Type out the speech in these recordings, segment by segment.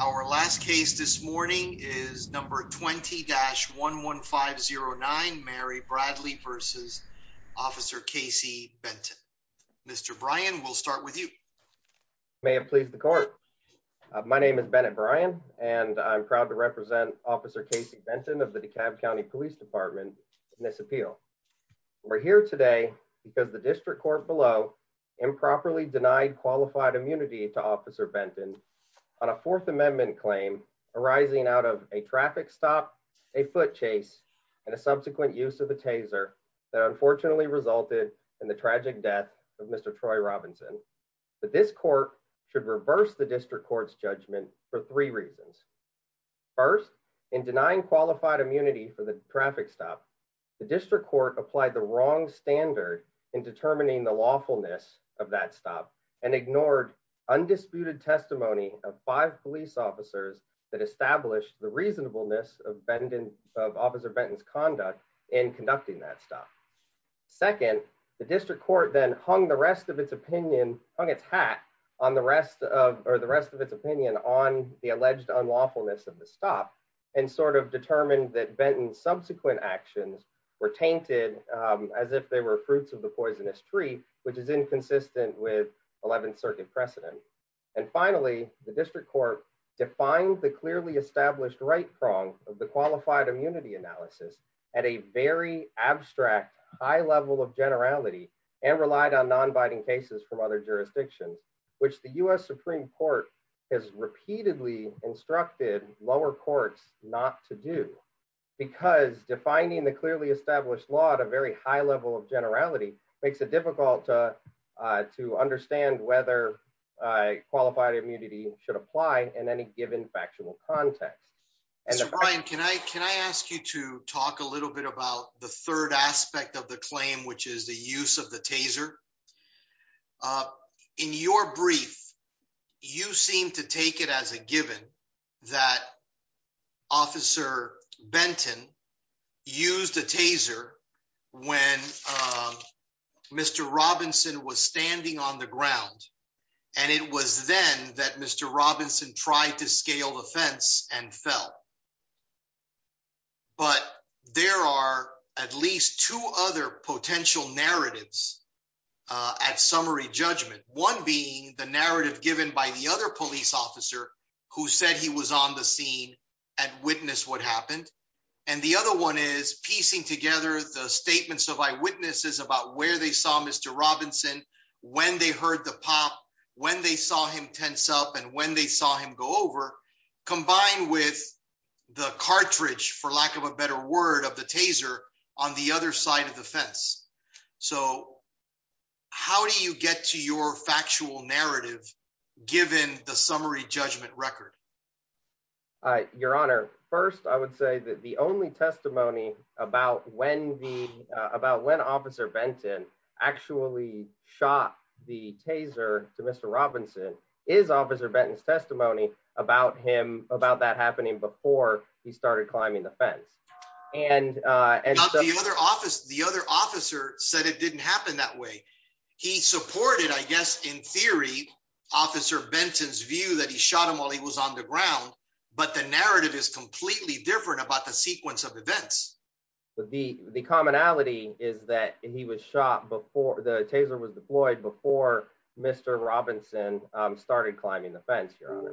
Our last case this morning is number 20-11509 Mary Bradley v. Officer Casey Benton. Mr. Bryan, we'll start with you. You may have pleased the court. My name is Bennett Bryan and I'm proud to represent Officer Casey Benton of the DeKalb County Police Department in this appeal. We're here today because the district court below improperly denied qualified immunity to Officer Bradley for a fourth amendment claim arising out of a traffic stop, a foot chase, and a subsequent use of a taser that unfortunately resulted in the tragic death of Mr. Troy Robinson. This court should reverse the district court's judgment for three reasons. First, in denying qualified immunity for the traffic stop, the district court applied the wrong standard in determining the lawfulness of that stop and ignored undisputed testimony of five police officers that established the reasonableness of Officer Benton's conduct in conducting that stop. Second, the district court then hung the rest of its opinion, hung its hat on the rest of or the rest of its opinion on the alleged unlawfulness of the stop and sort of determined that Benton's subsequent actions were tainted as if they were fruits of poisonous tree, which is inconsistent with 11th Circuit precedent. And finally, the district court defined the clearly established right prong of the qualified immunity analysis at a very abstract high level of generality and relied on non-binding cases from other jurisdictions, which the U.S. Supreme Court has repeatedly instructed lower courts not to do because defining the clearly established law at a very high level of generality makes it difficult to understand whether qualified immunity should apply in any given factual context. Mr. Bryan, can I ask you to talk a little bit about the third aspect of the claim, which is the use of the taser? In your brief, you seem to take it as a given that Officer Benton used a taser when Mr. Robinson was standing on the ground, and it was then that Mr. Robinson tried to scale the fence and fell. But there are at least two other potential narratives at summary judgment, one being the narrative given by the other police officer who said he was on the scene and witnessed what happened, and the other one is piecing together the statements of eyewitnesses about where they saw Mr. Robinson, when they heard the pop, when they saw him tense up, and when they saw him go over, combined with the cartridge, for lack of a better word, of the taser on the other side of the given the summary judgment record. Your Honor, first, I would say that the only testimony about when Officer Benton actually shot the taser to Mr. Robinson is Officer Benton's testimony about that happening before he started climbing the fence. The other officer said it didn't happen that way. He supported, I guess, in theory, Officer Benton's view that he shot him while he was on the ground, but the narrative is completely different about the sequence of events. The commonality is that he was shot before the taser was deployed before Mr. Robinson started climbing the fence, Your Honor.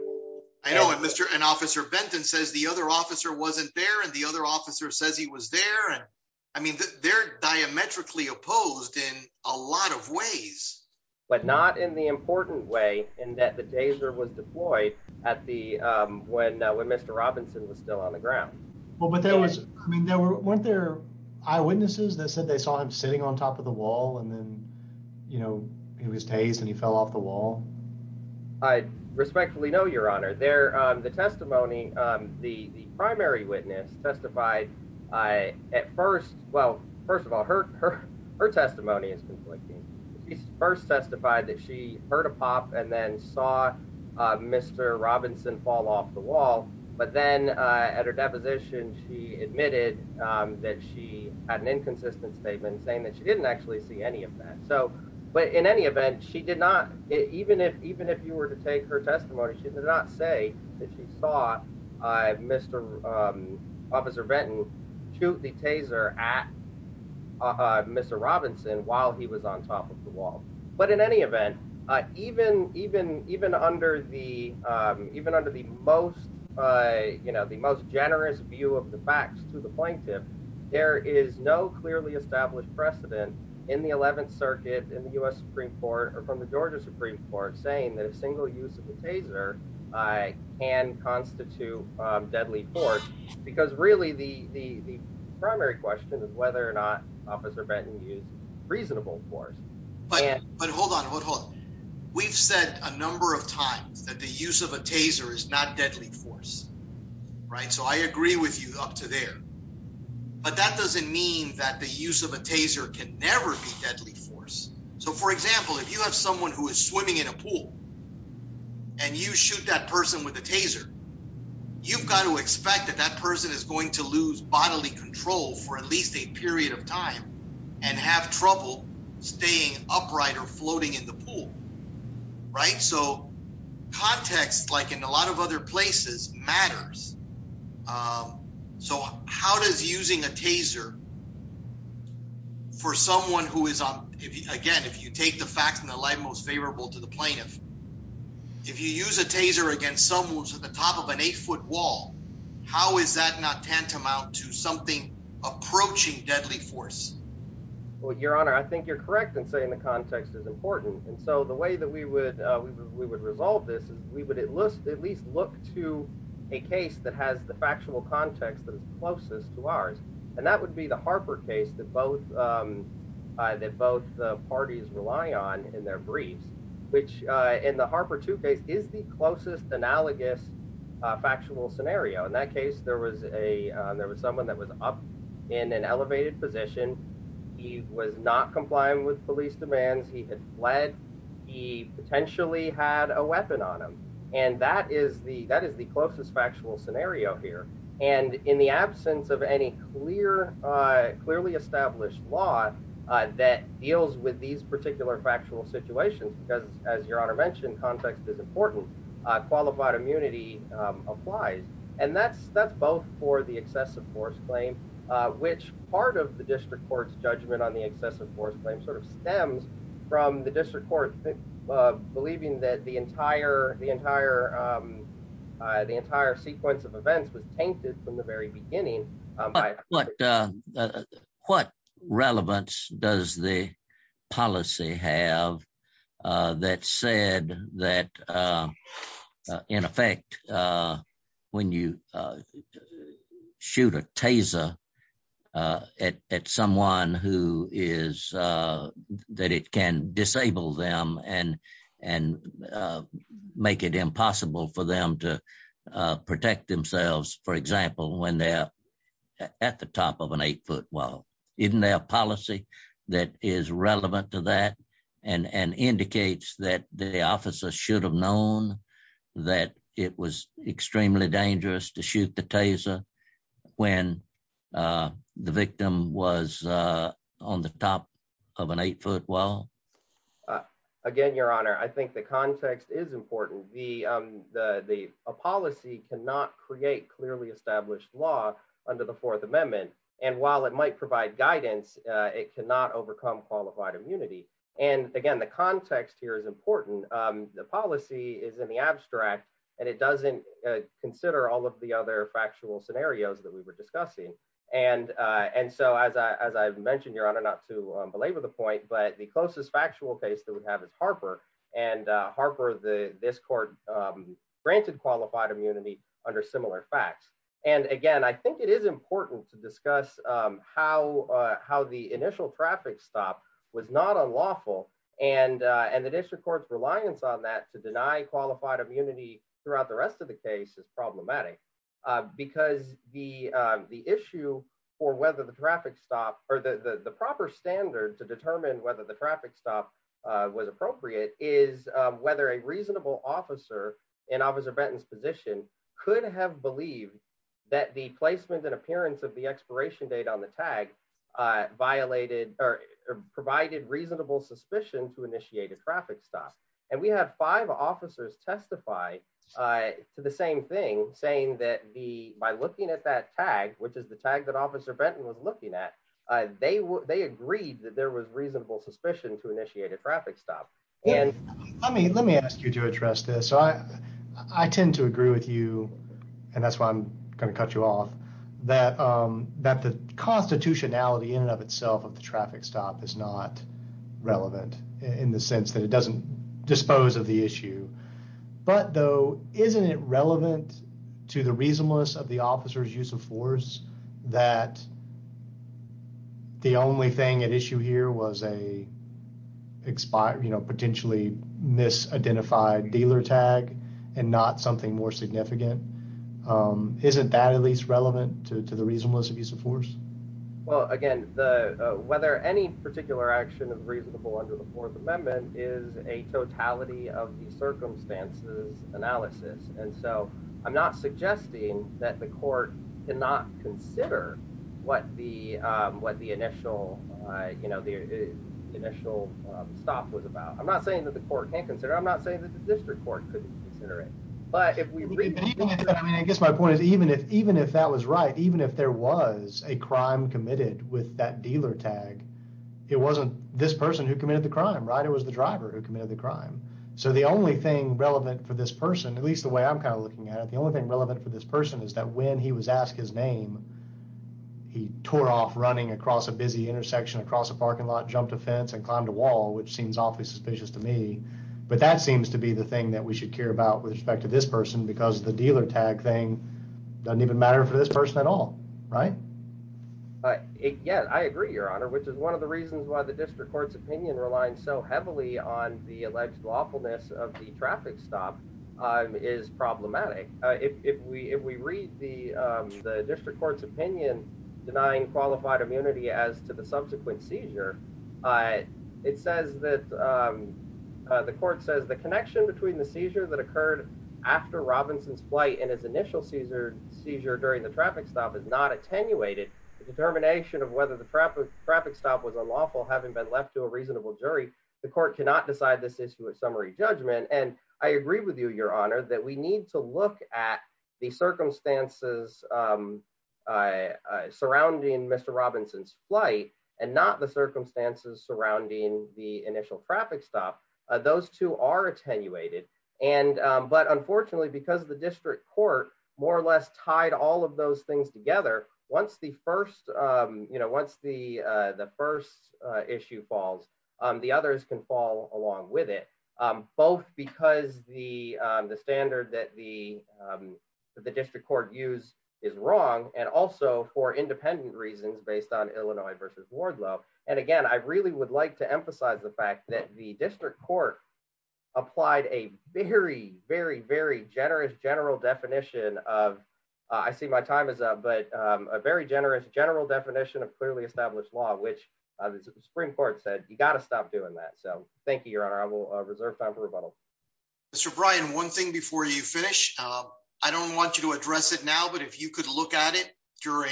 I know, and Officer Benton says the other officer wasn't there, and the other officer says he was there. I mean, they're diametrically opposed in a lot of ways. But not in the important way in that the taser was deployed when Mr. Robinson was still on the ground. Well, but there was, I mean, weren't there eyewitnesses that said they saw him sitting on top of the wall, and then, you know, he was tased and he fell off the wall? I respectfully know, Your Honor. The testimony, the primary witness testified at first, well, first of all, her testimony is conflicting. She first testified that she heard a pop and then saw Mr. Robinson fall off the wall, but then at her deposition, she admitted that she had an inconsistent statement saying that she didn't actually see any of that. So, but in any event, she did not, even if you were to take her testimony, she did not say that she saw Mr. Officer Benton shoot the taser at Mr. Robinson while he was on top of the wall. But in any event, even under the most, you know, the most generous view of the facts to the plaintiff, there is no clearly established precedent in the 11th Circuit in the U.S. Supreme Court or from the Georgia Supreme Court saying that a single use of the taser can constitute deadly force, because really the primary question is whether or not Officer Benton used reasonable force. But hold on, hold on. We've said a number of times that the use of a taser is not deadly force, right? So I agree with you up to there, but that doesn't mean that the use of a taser can never be deadly force. So for example, if you have someone who is swimming in a pool and you shoot that person with a taser, you've got to expect that that person is going to lose bodily control for at least a period of time and have trouble staying upright or floating in the pool, right? So context, like in a lot of other places, matters. So how does using a taser for someone who is, again, if you take the facts and the light most favorable to the plaintiff, if you use a taser against someone who's at the top of an eight-foot wall, how is that not tantamount to something approaching deadly force? Well, Your Honor, I think you're correct in saying the context is important. And so the way that we would resolve this is we would at least look to a case that has the factual context that is closest to ours. And that would be the Harper case that both parties rely on in their briefs, which in the Harper 2 case is the closest analogous factual scenario. In that case, there was someone that was up in an elevated position. He was not complying with police demands. He had fled. He potentially had a weapon on him. And that is the closest factual scenario here. And in the absence of any clearly established law that deals with these particular factual situations, because as Your Honor mentioned, context is important, qualified immunity applies. And that's both for the excessive force claim, which part of the district court's judgment on the excessive force claim sort of stems from the district court believing that the entire sequence of events was tainted from the very beginning. What relevance does the policy have that said that, in effect, when you make it impossible for them to protect themselves, for example, when they're at the top of an eight-foot wall? Isn't there a policy that is relevant to that and indicates that the officer should have known that it was extremely dangerous to shoot the taser when the victim was on the top of an eight-foot wall? Again, Your Honor, I think the context is important. A policy cannot create clearly established law under the Fourth Amendment. And while it might provide guidance, it cannot overcome qualified immunity. And again, the context here is important. The policy is in the abstract, and it doesn't consider all of the other factual scenarios that we were discussing. And so, as I mentioned, Your Honor, not to belabor the point, but the closest factual case that we have is Harper. And Harper, this court granted qualified immunity under similar facts. And again, I think it is important to discuss how the initial traffic stop was not unlawful, and the district court's case is problematic, because the issue for whether the traffic stop or the proper standard to determine whether the traffic stop was appropriate is whether a reasonable officer in Officer Benton's position could have believed that the placement and appearance of the expiration date on the tag violated or provided reasonable suspicion to initiate a traffic stop. And we have five officers testify to the same thing, saying that by looking at that tag, which is the tag that Officer Benton was looking at, they agreed that there was reasonable suspicion to initiate a traffic stop. Let me ask you to address this. I tend to agree with you, and that's why I'm going to cut you off, that the constitutionality in and of itself of the dispose of the issue. But though, isn't it relevant to the reasonableness of the officer's use of force that the only thing at issue here was a potentially misidentified dealer tag, and not something more significant? Isn't that at least relevant to the reasonableness of use of force? Well, again, whether any particular action is reasonable under the Fourth Amendment is a totality of the circumstances analysis. And so, I'm not suggesting that the court cannot consider what the initial stop was about. I'm not saying that the court can't consider it. I'm not saying that the district court couldn't consider it. But if we read it. I mean, I guess my point is even if that was right, even if there was a crime committed with that dealer tag, it wasn't this person who committed the crime, right? It was the driver who committed the crime. So, the only thing relevant for this person, at least the way I'm kind of looking at it, the only thing relevant for this person is that when he was asked his name, he tore off running across a busy intersection, across a parking lot, jumped a fence, and climbed a wall, which seems awfully suspicious to me. But that seems to be the thing that we should care about with respect to this person because the dealer tag thing doesn't even matter for this person at all, right? Yeah, I agree, Your Honor, which is one of the reasons why the district court's opinion relies so heavily on the alleged lawfulness of the traffic stop is problematic. If we read the district court's opinion denying qualified immunity as to the subsequent seizure, it says that the court says the connection between the seizure that occurred after Robinson's flight and his initial seizure during the traffic stop is not attenuated. The determination of whether the traffic stop was unlawful having been left to a reasonable jury, the court cannot decide this issue at summary judgment. And I agree with you, Your Honor, that we need to look at the circumstances surrounding Mr. Robinson's flight and not circumstances surrounding the initial traffic stop. Those two are attenuated. But unfortunately, because the district court more or less tied all of those things together, once the first issue falls, the others can fall along with it, both because the standard that the district court used is wrong and also for independent reasons based on Illinois versus Wardlow. And again, I really would like to emphasize the fact that the district court applied a very, very, very generous general definition of, I see my time is up, but a very generous general definition of clearly established law, which the Supreme Court said, you got to stop doing that. So thank you, Your Honor. I will reserve time for rebuttal. Mr. Bryan, one thing before you finish, I don't want you to address it now, but if you could look at it during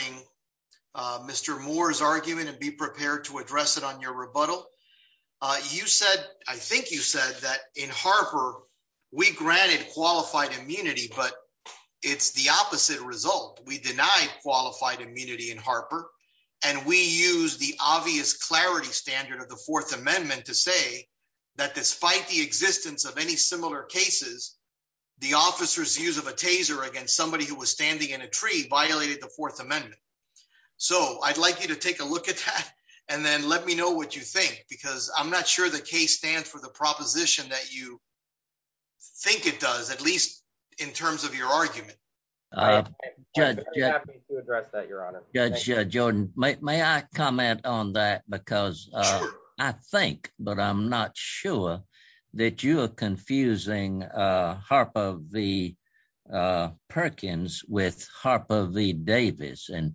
Mr. Moore's argument and be prepared to address it on your rebuttal, you said, I think you said that in Harper, we granted qualified immunity, but it's the opposite result. We denied qualified immunity in Harper. And we use the obvious clarity standard of the fourth amendment to say that despite the existence of any similar cases, the officers use of a taser against somebody who was standing in a tree violated the fourth amendment. So I'd like you to take a look at that and then let me know what you think, because I'm not sure the case stands for the proposition that you think it does, at least in terms of your argument. I'm happy to address that, Your Honor. Judge Jordan, may I comment on that? Because I think, but I'm not sure, that you are confusing Harper v. Perkins with Harper v. Davis. And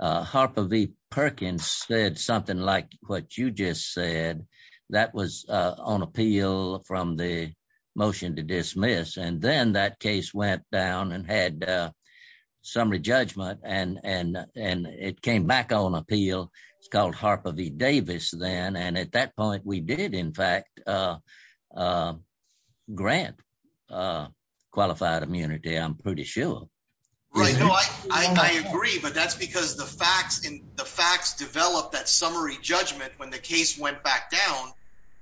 Harper v. Perkins said something like what you just said that was on appeal from the motion to dismiss. And then that case went down and had summary judgment, and it came back on Harper v. Davis then. And at that point, we did in fact grant qualified immunity, I'm pretty sure. Right. No, I agree. But that's because the facts developed that summary judgment when the case went back down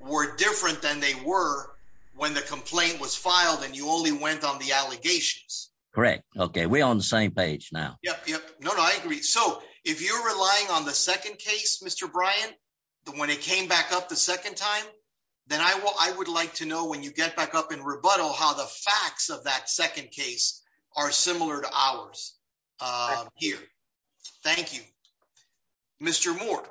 were different than they were when the complaint was filed and you only went on the allegations. Correct. Okay. We're on the same page now. Yep. Yep. No, no, I agree. So if you're Brian, when it came back up the second time, then I would like to know when you get back up in rebuttal how the facts of that second case are similar to ours here. Thank you. Mr. Moore.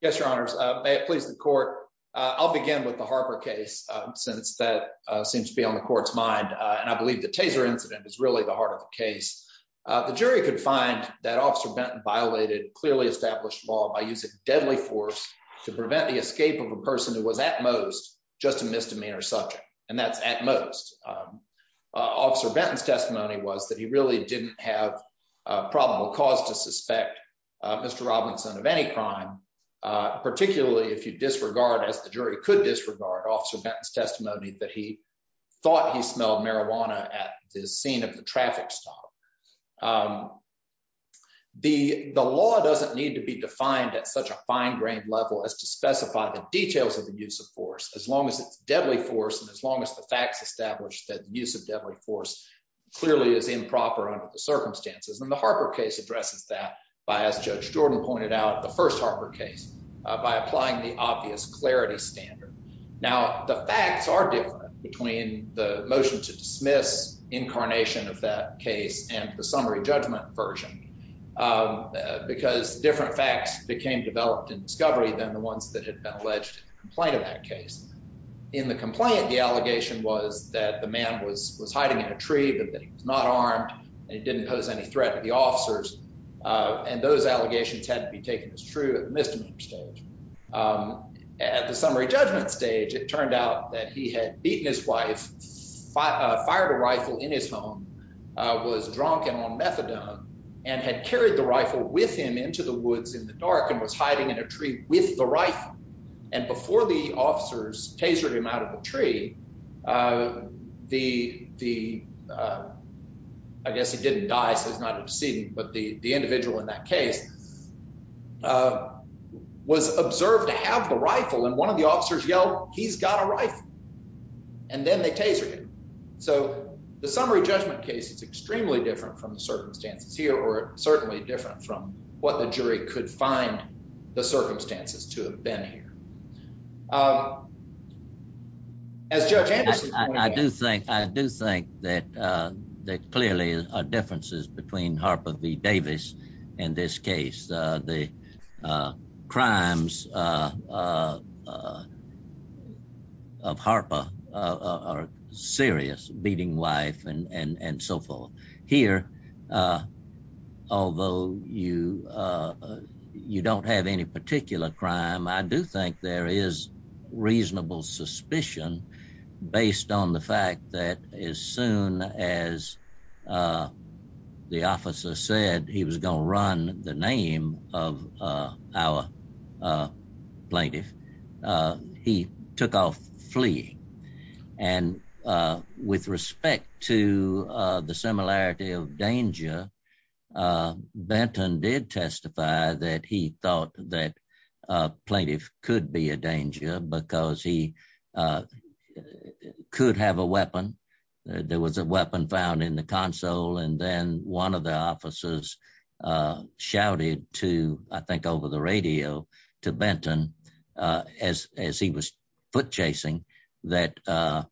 Yes, Your Honors. May it please the court. I'll begin with the Harper case, since that seems to be on the court's mind. And I believe the Taser incident is really the heart of the case. The jury could find that Officer Benton violated clearly established law by using deadly force to prevent the escape of a person who was at most just a misdemeanor subject. And that's at most. Officer Benton's testimony was that he really didn't have a probable cause to suspect Mr. Robinson of any crime, particularly if you disregard as the jury could disregard Officer Benton's testimony that he thought he smelled marijuana at the scene of the traffic stop. The law doesn't need to be defined at such a fine-grained level as to specify the details of the use of force, as long as it's deadly force. And as long as the facts established that use of deadly force clearly is improper under the circumstances. And the Harper case addresses that by, as Judge Jordan pointed out, the first Harper case by applying the obvious standard. Now, the facts are different between the motion to dismiss incarnation of that case and the summary judgment version, because different facts became developed in discovery than the ones that had been alleged in the complaint of that case. In the complaint, the allegation was that the man was hiding in a tree, but that he was not armed and didn't pose any threat to the officers. And those allegations had to be taken as true at the misdemeanor stage. Um, at the summary judgment stage, it turned out that he had beaten his wife, fired a rifle in his home, uh, was drunk and on methadone and had carried the rifle with him into the woods in the dark and was hiding in a tree with the rifle. And before the officers tasered him out of the tree, uh, the, the, uh, I guess he didn't die. So he's not a decedent, but the, the individual in that case, uh, was observed to have the rifle. And one of the officers yelled, he's got a rifle. And then they tasered him. So the summary judgment case is extremely different from the circumstances here, or certainly different from what the jury could find the circumstances to have been here. Um, as Judge Anderson, I do think, I do think that, uh, that clearly are differences between Harper v. Davis and this case, uh, the, uh, crimes, uh, uh, of Harper, uh, are serious beating wife and, and, and so forth here. Uh, although you, uh, you don't have any particular crime, I do think there is reasonable suspicion based on the fact that as soon as, uh, the officer said he was going to run the name of, uh, our, uh, plaintiff, uh, he took off fleeing. And, uh, with respect to, uh, the similarity of danger, uh, Benton did testify that he thought that, uh, plaintiff could be a danger because he, uh, could have a weapon. There was a weapon found in the console. And then one of the officers, uh, shouted to, I think over the radio to Benton, uh, as, as he was foot chasing that, uh,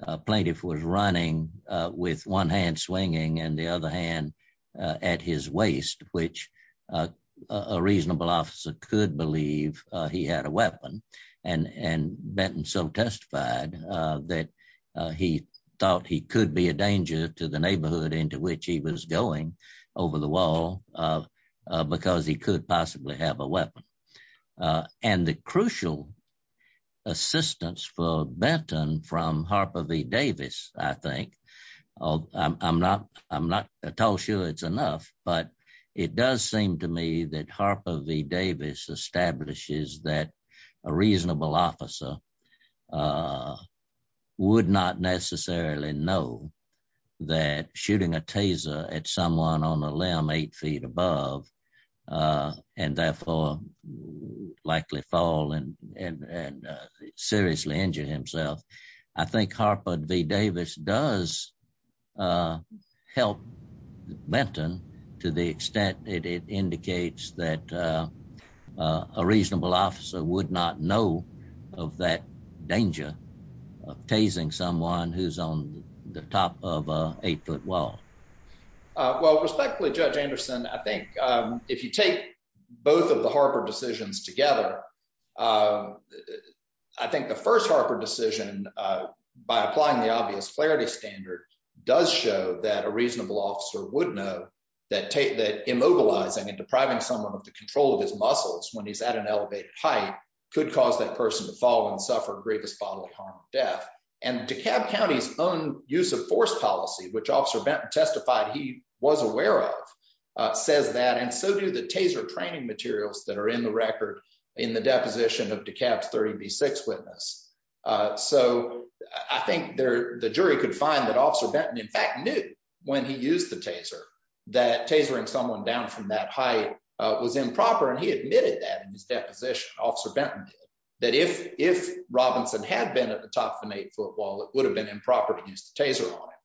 a plaintiff was running, uh, with one hand swinging and the other hand, uh, at his waist, which, uh, a reasonable officer could believe, uh, he had a weapon and, and Benton so testified, uh, that, uh, he thought he could be a danger to the neighborhood into which he was going over the wall, uh, uh, because he could possibly have a weapon, uh, and the crucial assistance for Benton from Harper v. Davis, I think, uh, I'm not, I'm not at all sure it's seemed to me that Harper v. Davis establishes that a reasonable officer, uh, would not necessarily know that shooting a taser at someone on a limb eight feet above, uh, and therefore likely fall and, and, and, uh, seriously injured himself. I think Harper v. Davis does, uh, help Benton to the extent that it indicates that, uh, uh, a reasonable officer would not know of that danger of tasing someone who's on the top of a eight foot wall. Well, respectfully, Judge Anderson, I think, um, if you take both of the Harper decisions together, uh, I think the first Harper decision, uh, by applying the obvious clarity standard does show that a reasonable officer would know that, that immobilizing and depriving someone of the control of his muscles when he's at an elevated height could cause that person to fall and suffer the greatest bodily harm of death. And DeKalb County's own use of force policy, which Officer Benton testified he was aware of, uh, says that, and so do the taser training materials that are in the record in the deposition of DeKalb's 30B6 witness. Uh, so I think there, the jury could find that Officer Benton in fact knew when he used the taser that tasering someone down from that height, uh, was improper. And he admitted that in his deposition, Officer Benton did, that if, if Robinson had been at the top of an eight foot wall, it would have been improper to use the taser on him.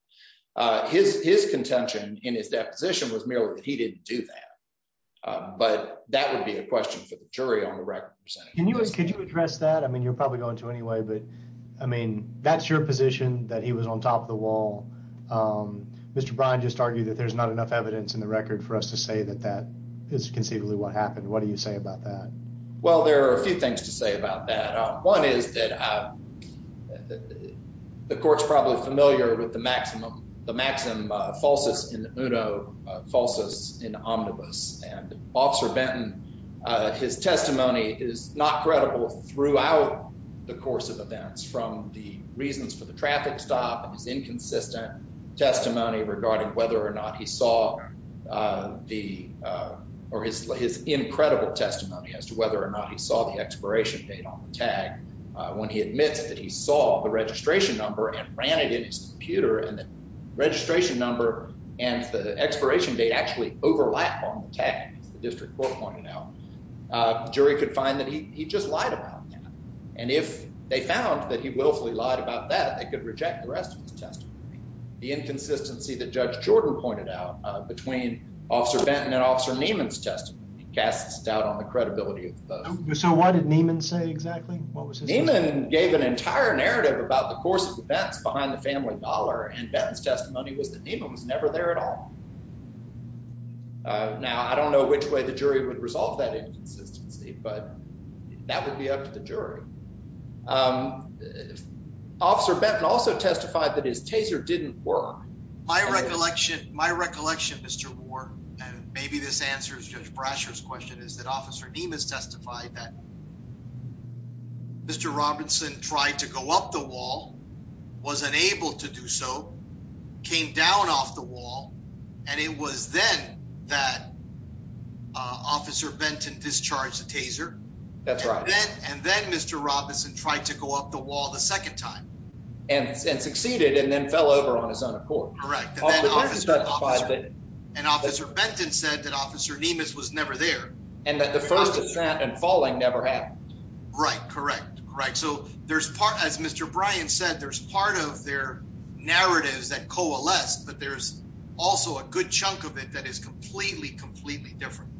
Uh, his, his contention in his deposition was merely that he didn't do that. Uh, but that would be a question for the jury on the record. Could you address that? I was on top of the wall. Um, Mr. Brian just argued that there's not enough evidence in the record for us to say that that is conceivably what happened. What do you say about that? Well, there are a few things to say about that. Uh, one is that, uh, the court's probably familiar with the maximum, the maximum, uh, falsus in uno, uh, falsus in omnibus and Officer Benton, uh, his testimony is not credible throughout the course of events from the reasons for the traffic stop, his inconsistent testimony regarding whether or not he saw, uh, the, uh, or his, his incredible testimony as to whether or not he saw the expiration date on the tag. Uh, when he admits that he saw the registration number and ran it in his computer and the registration number and the expiration date actually overlap on the tag, as the district court pointed out, uh, jury could find that he, he just lied about that. And if they found that he willfully lied about that, they could reject the rest of his testimony. The inconsistency that Judge Jordan pointed out, uh, between Officer Benton and Officer Neiman's testimony casts doubt on the credibility of the both. So why did Neiman say exactly what was his name? Neiman gave an entire narrative about the course of events behind the family dollar and Benton's testimony was that Neiman was never there at all. Uh, now I don't know which way the jury would resolve that inconsistency, but that would be up to the jury. Um, Officer Benton also testified that his taser didn't work. My recollection, my recollection, Mr. Ward, and maybe this answers Judge Brasher's question is that Officer Neiman's testified that Mr. Robinson tried to go up the wall, was unable to do so, came down off the wall, and it was then that Officer Benton discharged the taser. That's right. And then Mr. Robinson tried to go up the wall the second time. And succeeded and then fell over on his own accord. Correct. And Officer Benton said that Officer Neiman's was never there. And that the first and falling never happened. Right. Correct. Right. So there's part, as Mr. Bryan said, there's part of their narratives that coalesce, but there's also a good chunk of it that is completely, completely different.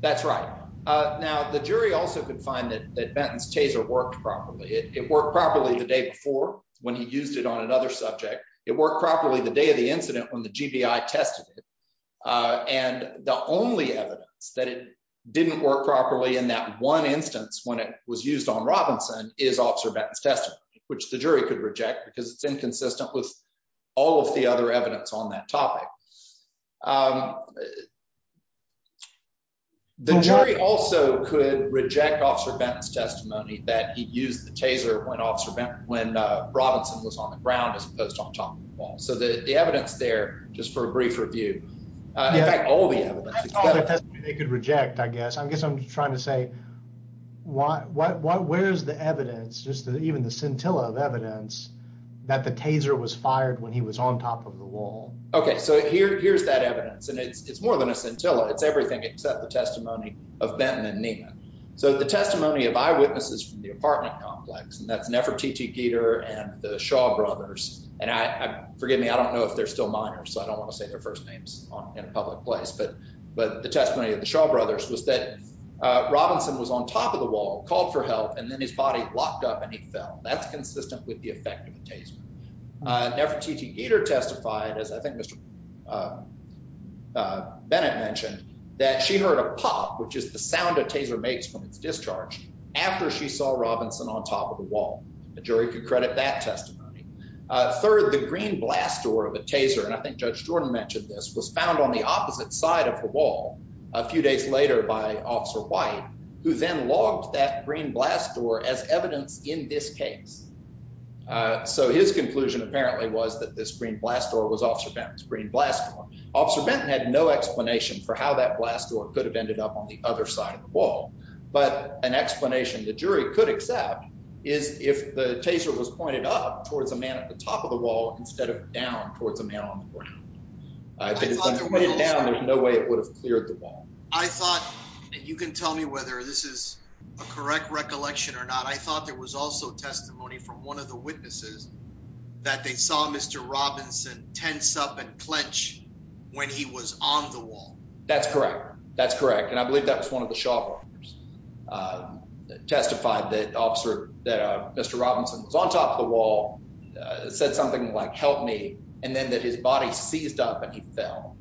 That's right. Uh, now the jury also could find that that Benton's taser worked properly. It worked properly the day before when he used it on another subject. It worked properly the day of the incident when the GBI tested it. And the only evidence that it didn't work properly in that one instance when it was used on Robinson is Officer Benton's testimony, which the jury could reject because it's inconsistent with all of the other evidence on that topic. The jury also could reject Officer Benton's testimony that he used the taser when Officer Benton, when Robinson was on the ground as opposed to on top of the wall. So the evidence there, just for a brief review. In fact, all the evidence. They could reject, I guess. I guess I'm trying to say, what, what, what, where's the evidence? Just even the scintilla of evidence that the taser was fired when he was on top of the wall. Okay. So here, here's that evidence. And it's, it's more than a scintilla. It's everything except the testimony of Benton and Neiman. So the testimony of eyewitnesses from the apartment complex, and that's Nefertiti Geter and the Shaw brothers. And I, forgive me, I don't know if they're still minors, so I don't want to say their first names in a public place, but, but the testimony of the Shaw brothers was that Robinson was on top of the wall, called for help, and then his body locked up and he fell. That's consistent with the effect of a taser. Nefertiti Geter testified, as I think Mr. Bennett mentioned, that she heard a pop, which is the sound a taser makes when it's discharged, after she saw Robinson on top of the wall. The jury could credit that and I think Judge Jordan mentioned this, was found on the opposite side of the wall a few days later by Officer White, who then logged that green blast door as evidence in this case. So his conclusion apparently was that this green blast door was Officer Benton's green blast door. Officer Benton had no explanation for how that blast door could have ended up on the other side of the wall. But an explanation the jury could accept is if the taser was pointed up a man at the top of the wall instead of down towards a man on the ground. If it was pointed down, there's no way it would have cleared the wall. I thought, and you can tell me whether this is a correct recollection or not, I thought there was also testimony from one of the witnesses that they saw Mr. Robinson tense up and clench when he was on the wall. That's correct. That's correct. And I believe that was one of the Shaw brothers who testified that Mr. Robinson was on top of the wall, said something like help me, and then that his body seized up and he fell.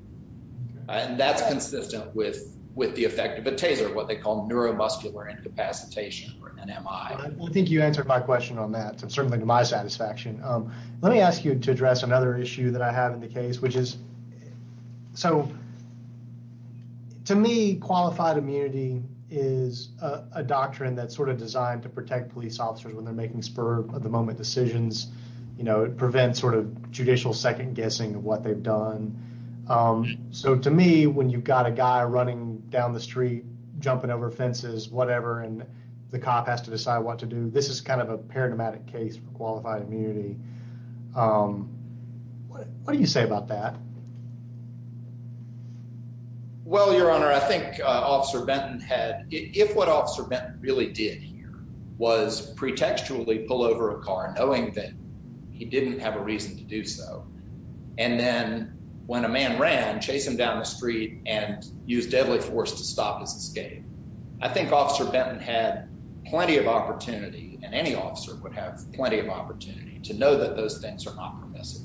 And that's consistent with the effect of a taser, what they call neuromuscular incapacitation or NMI. I think you answered my question on that, certainly to my satisfaction. Let me ask you to address another issue that I have in the case, which is, to me, qualified immunity is a doctrine that's designed to protect police officers when they're making spur-of-the-moment decisions. It prevents judicial second-guessing of what they've done. To me, when you've got a guy running down the street, jumping over fences, whatever, and the cop has to decide what to do, this is a paradigmatic case for qualified immunity. What do you say about that? Well, Your Honor, I think Officer Benton had... If what Officer Benton really did here was pretextually pull over a car, knowing that he didn't have a reason to do so, and then when a man ran, chase him down the street and use deadly force to stop his escape, I think Officer Benton had plenty of opportunity, and any officer would have plenty of opportunity, to know that those things are not permissive.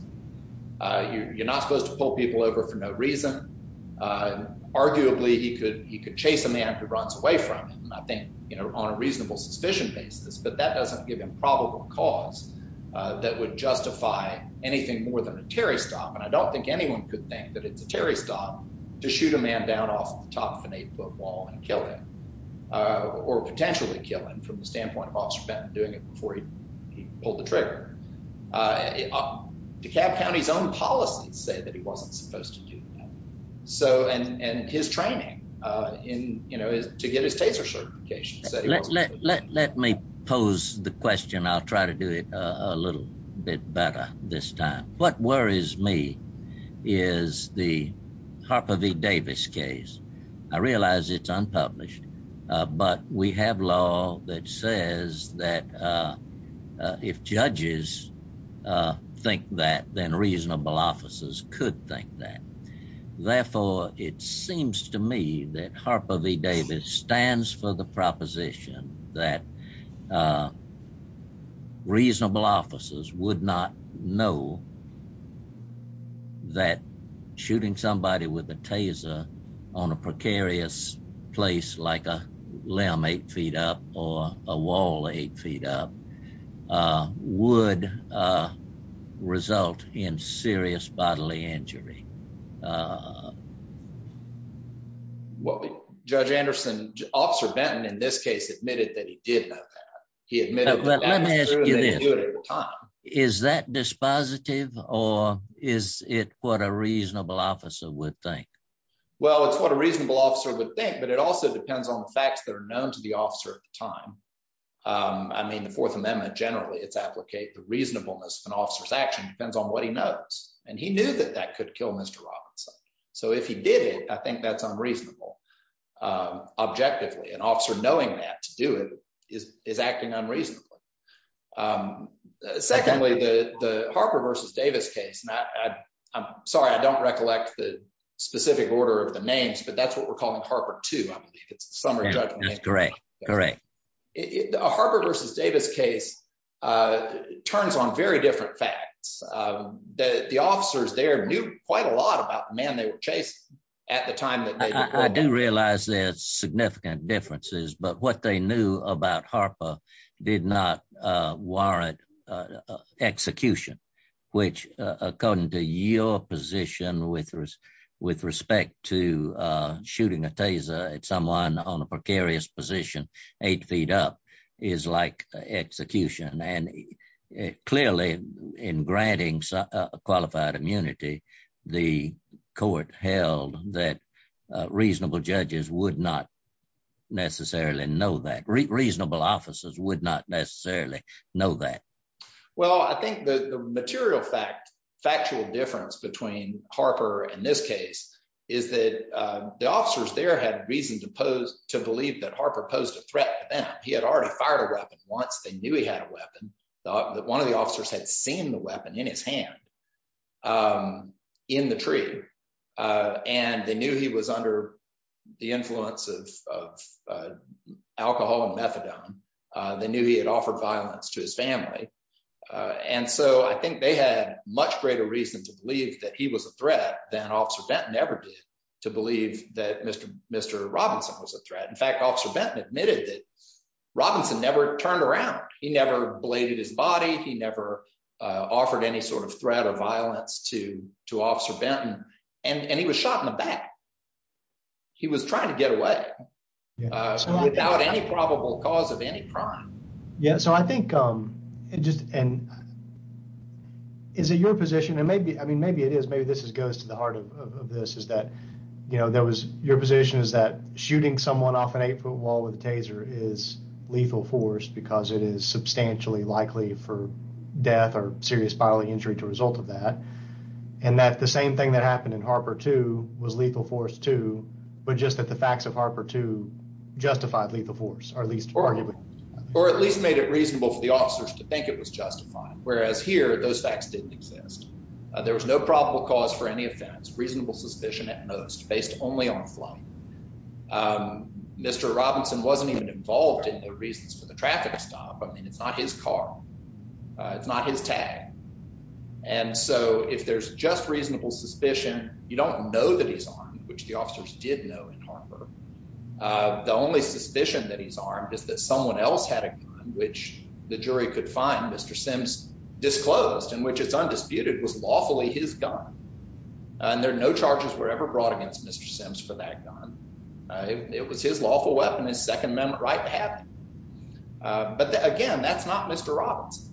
You're not supposed to pull people over for no reason. Arguably, he could chase a man who runs away from him, I think, on a reasonable suspicion basis, but that doesn't give him probable cause that would justify anything more than a Terry stop, and I don't think anyone could think that it's a Terry stop to shoot a man down off the top of an eight-foot wall and kill him, or potentially kill him, from the standpoint of Officer Benton doing it before he pulled the trigger. DeKalb County's own policies say that he wasn't supposed to do that, and his training to get his taser certification... Let me pose the question. I'll try to do it a little bit better this time. What worries me is the Harper v. Davis case. I realize it's unpublished, but we have law that says that if judges think that, then reasonable officers could think that. Therefore, it seems to me that Harper v. Davis stands for the proposition that reasonable officers would not know that shooting somebody with a taser on a precarious place, like a limb eight feet up, or a wall eight feet up, would result in serious bodily injury. Judge Anderson, Officer Benton, in this case, admitted that he did know that. Let me ask you this. Is that dispositive, or is it what a reasonable officer would think? Well, it's what a reasonable officer would think, but it also depends on the facts that are known to the officer at the time. I mean, the Fourth Amendment, generally, it's applicable. The reasonableness of an officer's action depends on what he knows, and he knew that that could kill Mr. Robinson. So if he did it, I think that's unreasonable, objectively. An officer knowing that to do it is acting unreasonably. Secondly, the Harper v. Davis case, I'm sorry, I don't recollect the specific order of the names, but that's what we're calling Harper 2. I believe it's the summary judgment. Harper v. Davis case turns on very different facts. The officers there quite a lot about the men they were chasing at the time. I do realize there's significant differences, but what they knew about Harper did not warrant execution, which, according to your position with respect to shooting a taser at someone on a precarious position eight feet up, is like execution. Clearly, in granting qualified immunity, the court held that reasonable judges would not necessarily know that. Reasonable officers would not necessarily know that. Well, I think the material fact, factual difference between Harper and this case is that the officers there had reason to believe that Harper posed a threat to them. He had fired a weapon once. They knew he had a weapon. One of the officers had seen the weapon in his hand in the tree. They knew he was under the influence of alcohol and methadone. They knew he had offered violence to his family. I think they had much greater reason to believe that he was a threat than Officer Benton ever did to believe that Mr. Robinson was a threat. In fact, Officer Benton admitted that Robinson never turned around. He never bladed his body. He never offered any sort of threat or violence to Officer Benton, and he was shot in the back. He was trying to get away without any probable cause of any crime. Yeah, so I think it just, and is it your position, and maybe, I mean, maybe it is, maybe this goes to the heart of this, is that, you know, there was, your position is that shooting someone off an eight-foot wall with a taser is lethal force because it is substantially likely for death or serious bodily injury to result of that, and that the same thing that happened in Harper too was lethal force too, but just that the facts of Harper too justified lethal force, or at least arguably. Or at least made it reasonable for the officers to think it was justified, whereas here those facts didn't exist. There was no probable cause for any offense, reasonable suspicion at most, based only on flight. Mr. Robinson wasn't even involved in the reasons for the traffic stop. I mean, it's not his car. It's not his tag, and so if there's just reasonable suspicion, you don't know that he's armed, which the officers did know in Harper. The only suspicion that he's armed is that someone had a gun, which the jury could find Mr. Sims disclosed and which is undisputed was lawfully his gun, and there are no charges were ever brought against Mr. Sims for that gun. It was his lawful weapon, his Second Amendment right to have it, but again, that's not Mr. Robinson.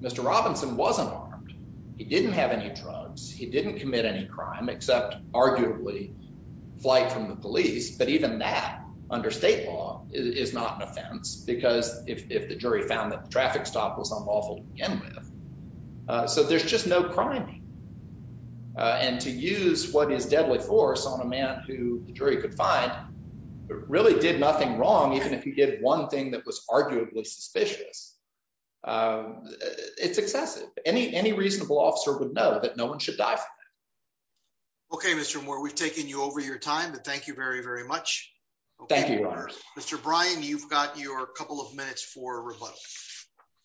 Mr. Robinson wasn't armed. He didn't have any drugs. He didn't commit any crime except arguably flight from the police, but even that under state law is not an offense because if the jury found that the traffic stop was unlawful to begin with, so there's just no criming, and to use what is deadly force on a man who the jury could find really did nothing wrong, even if he did one thing that was arguably suspicious. It's excessive. Any reasonable officer would know that no one should die from that. Okay, Mr. Moore, we've taken you over your time, but thank you very, very much. Thank you, Your Honor. Mr. Bryan, you've got your couple of minutes for rebuttal.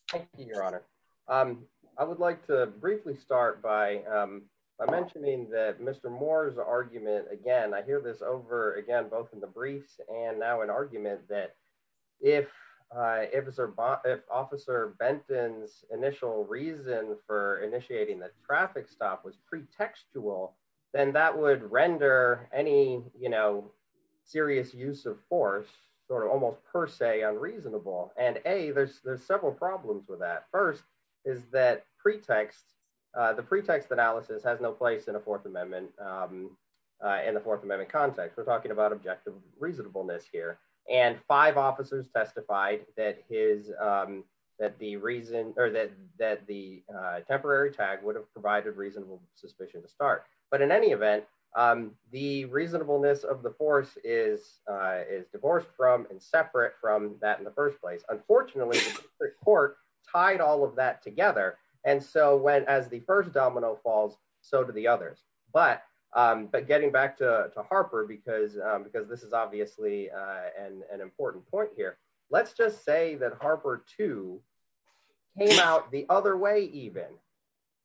Thank you, Your Honor. I would like to briefly start by mentioning that Mr. Moore's argument, again, I hear this over again, both in the briefs and now in argument, that if Officer Benton's initial reason for initiating the traffic stop was pretextual, then that would render any serious use of force almost per se unreasonable, and A, there's several problems with that. First is that the pretext analysis has no place in the Fourth Amendment context. We're talking about objective reasonableness here, and five officers testified that the temporary tag would have provided reasonable suspicion to start, but in any event, the reasonableness of the force is divorced from and separate from that in the first place. Unfortunately, the Supreme Court tied all of that together, and so as the first domino falls, so do the others, but getting back to Harper, because this is obviously an important point here, let's just say that Harper too came out the other way even.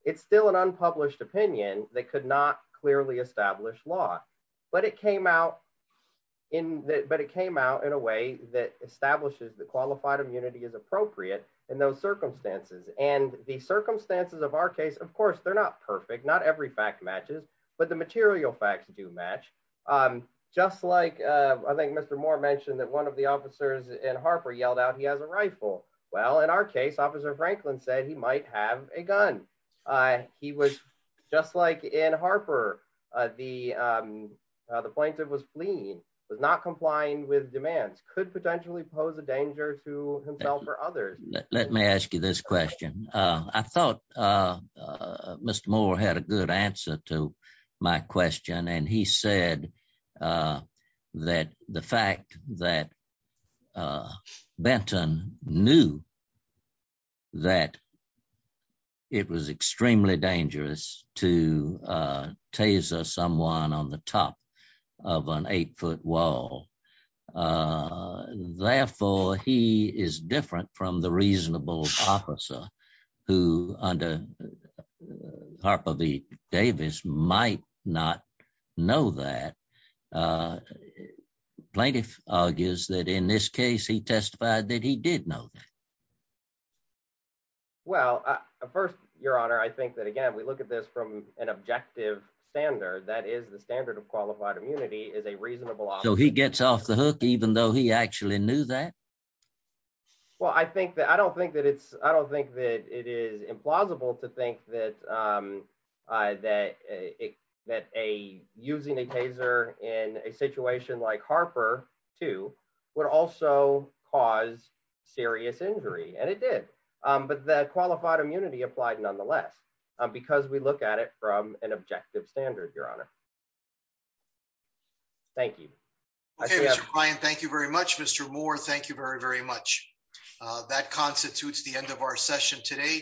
It's still an unpublished opinion that could not clearly establish law, but it came out in a way that establishes that qualified immunity is appropriate in those circumstances, and the circumstances of our case, of course, they're not perfect. Not every fact matches, but the material facts do match. Just like, I think Mr. Moore mentioned that one of the officers in Harper yelled out he has a rifle. Well, in our case, Officer Franklin said he might have a gun. He was, just like in Harper, the plaintiff was fleeing, was not complying with demands, could potentially pose a danger to himself or others. Let me ask you this question. I thought Mr. Moore had a good answer to my question, and he said that the fact that Benton knew that it was extremely dangerous to taser someone on the top of an eight-foot wall, therefore, he is different from the reasonable officer who, under Harper v. Davis, might not know that. Plaintiff argues that in this case, he testified that he did know that. Well, first, your honor, I think that, again, we look at this from an objective standard, that is, the standard of qualified immunity is a reasonable officer. So he gets off the hook even though he actually knew that? Well, I don't think that it is implausible to think that using a taser in a situation like Harper, too, would also cause serious injury, and it did, but the qualified immunity applied because we look at it from an objective standard, your honor. Thank you. Mr. Bryan, thank you very much. Mr. Moore, thank you very, very much. That constitutes the end of our session today.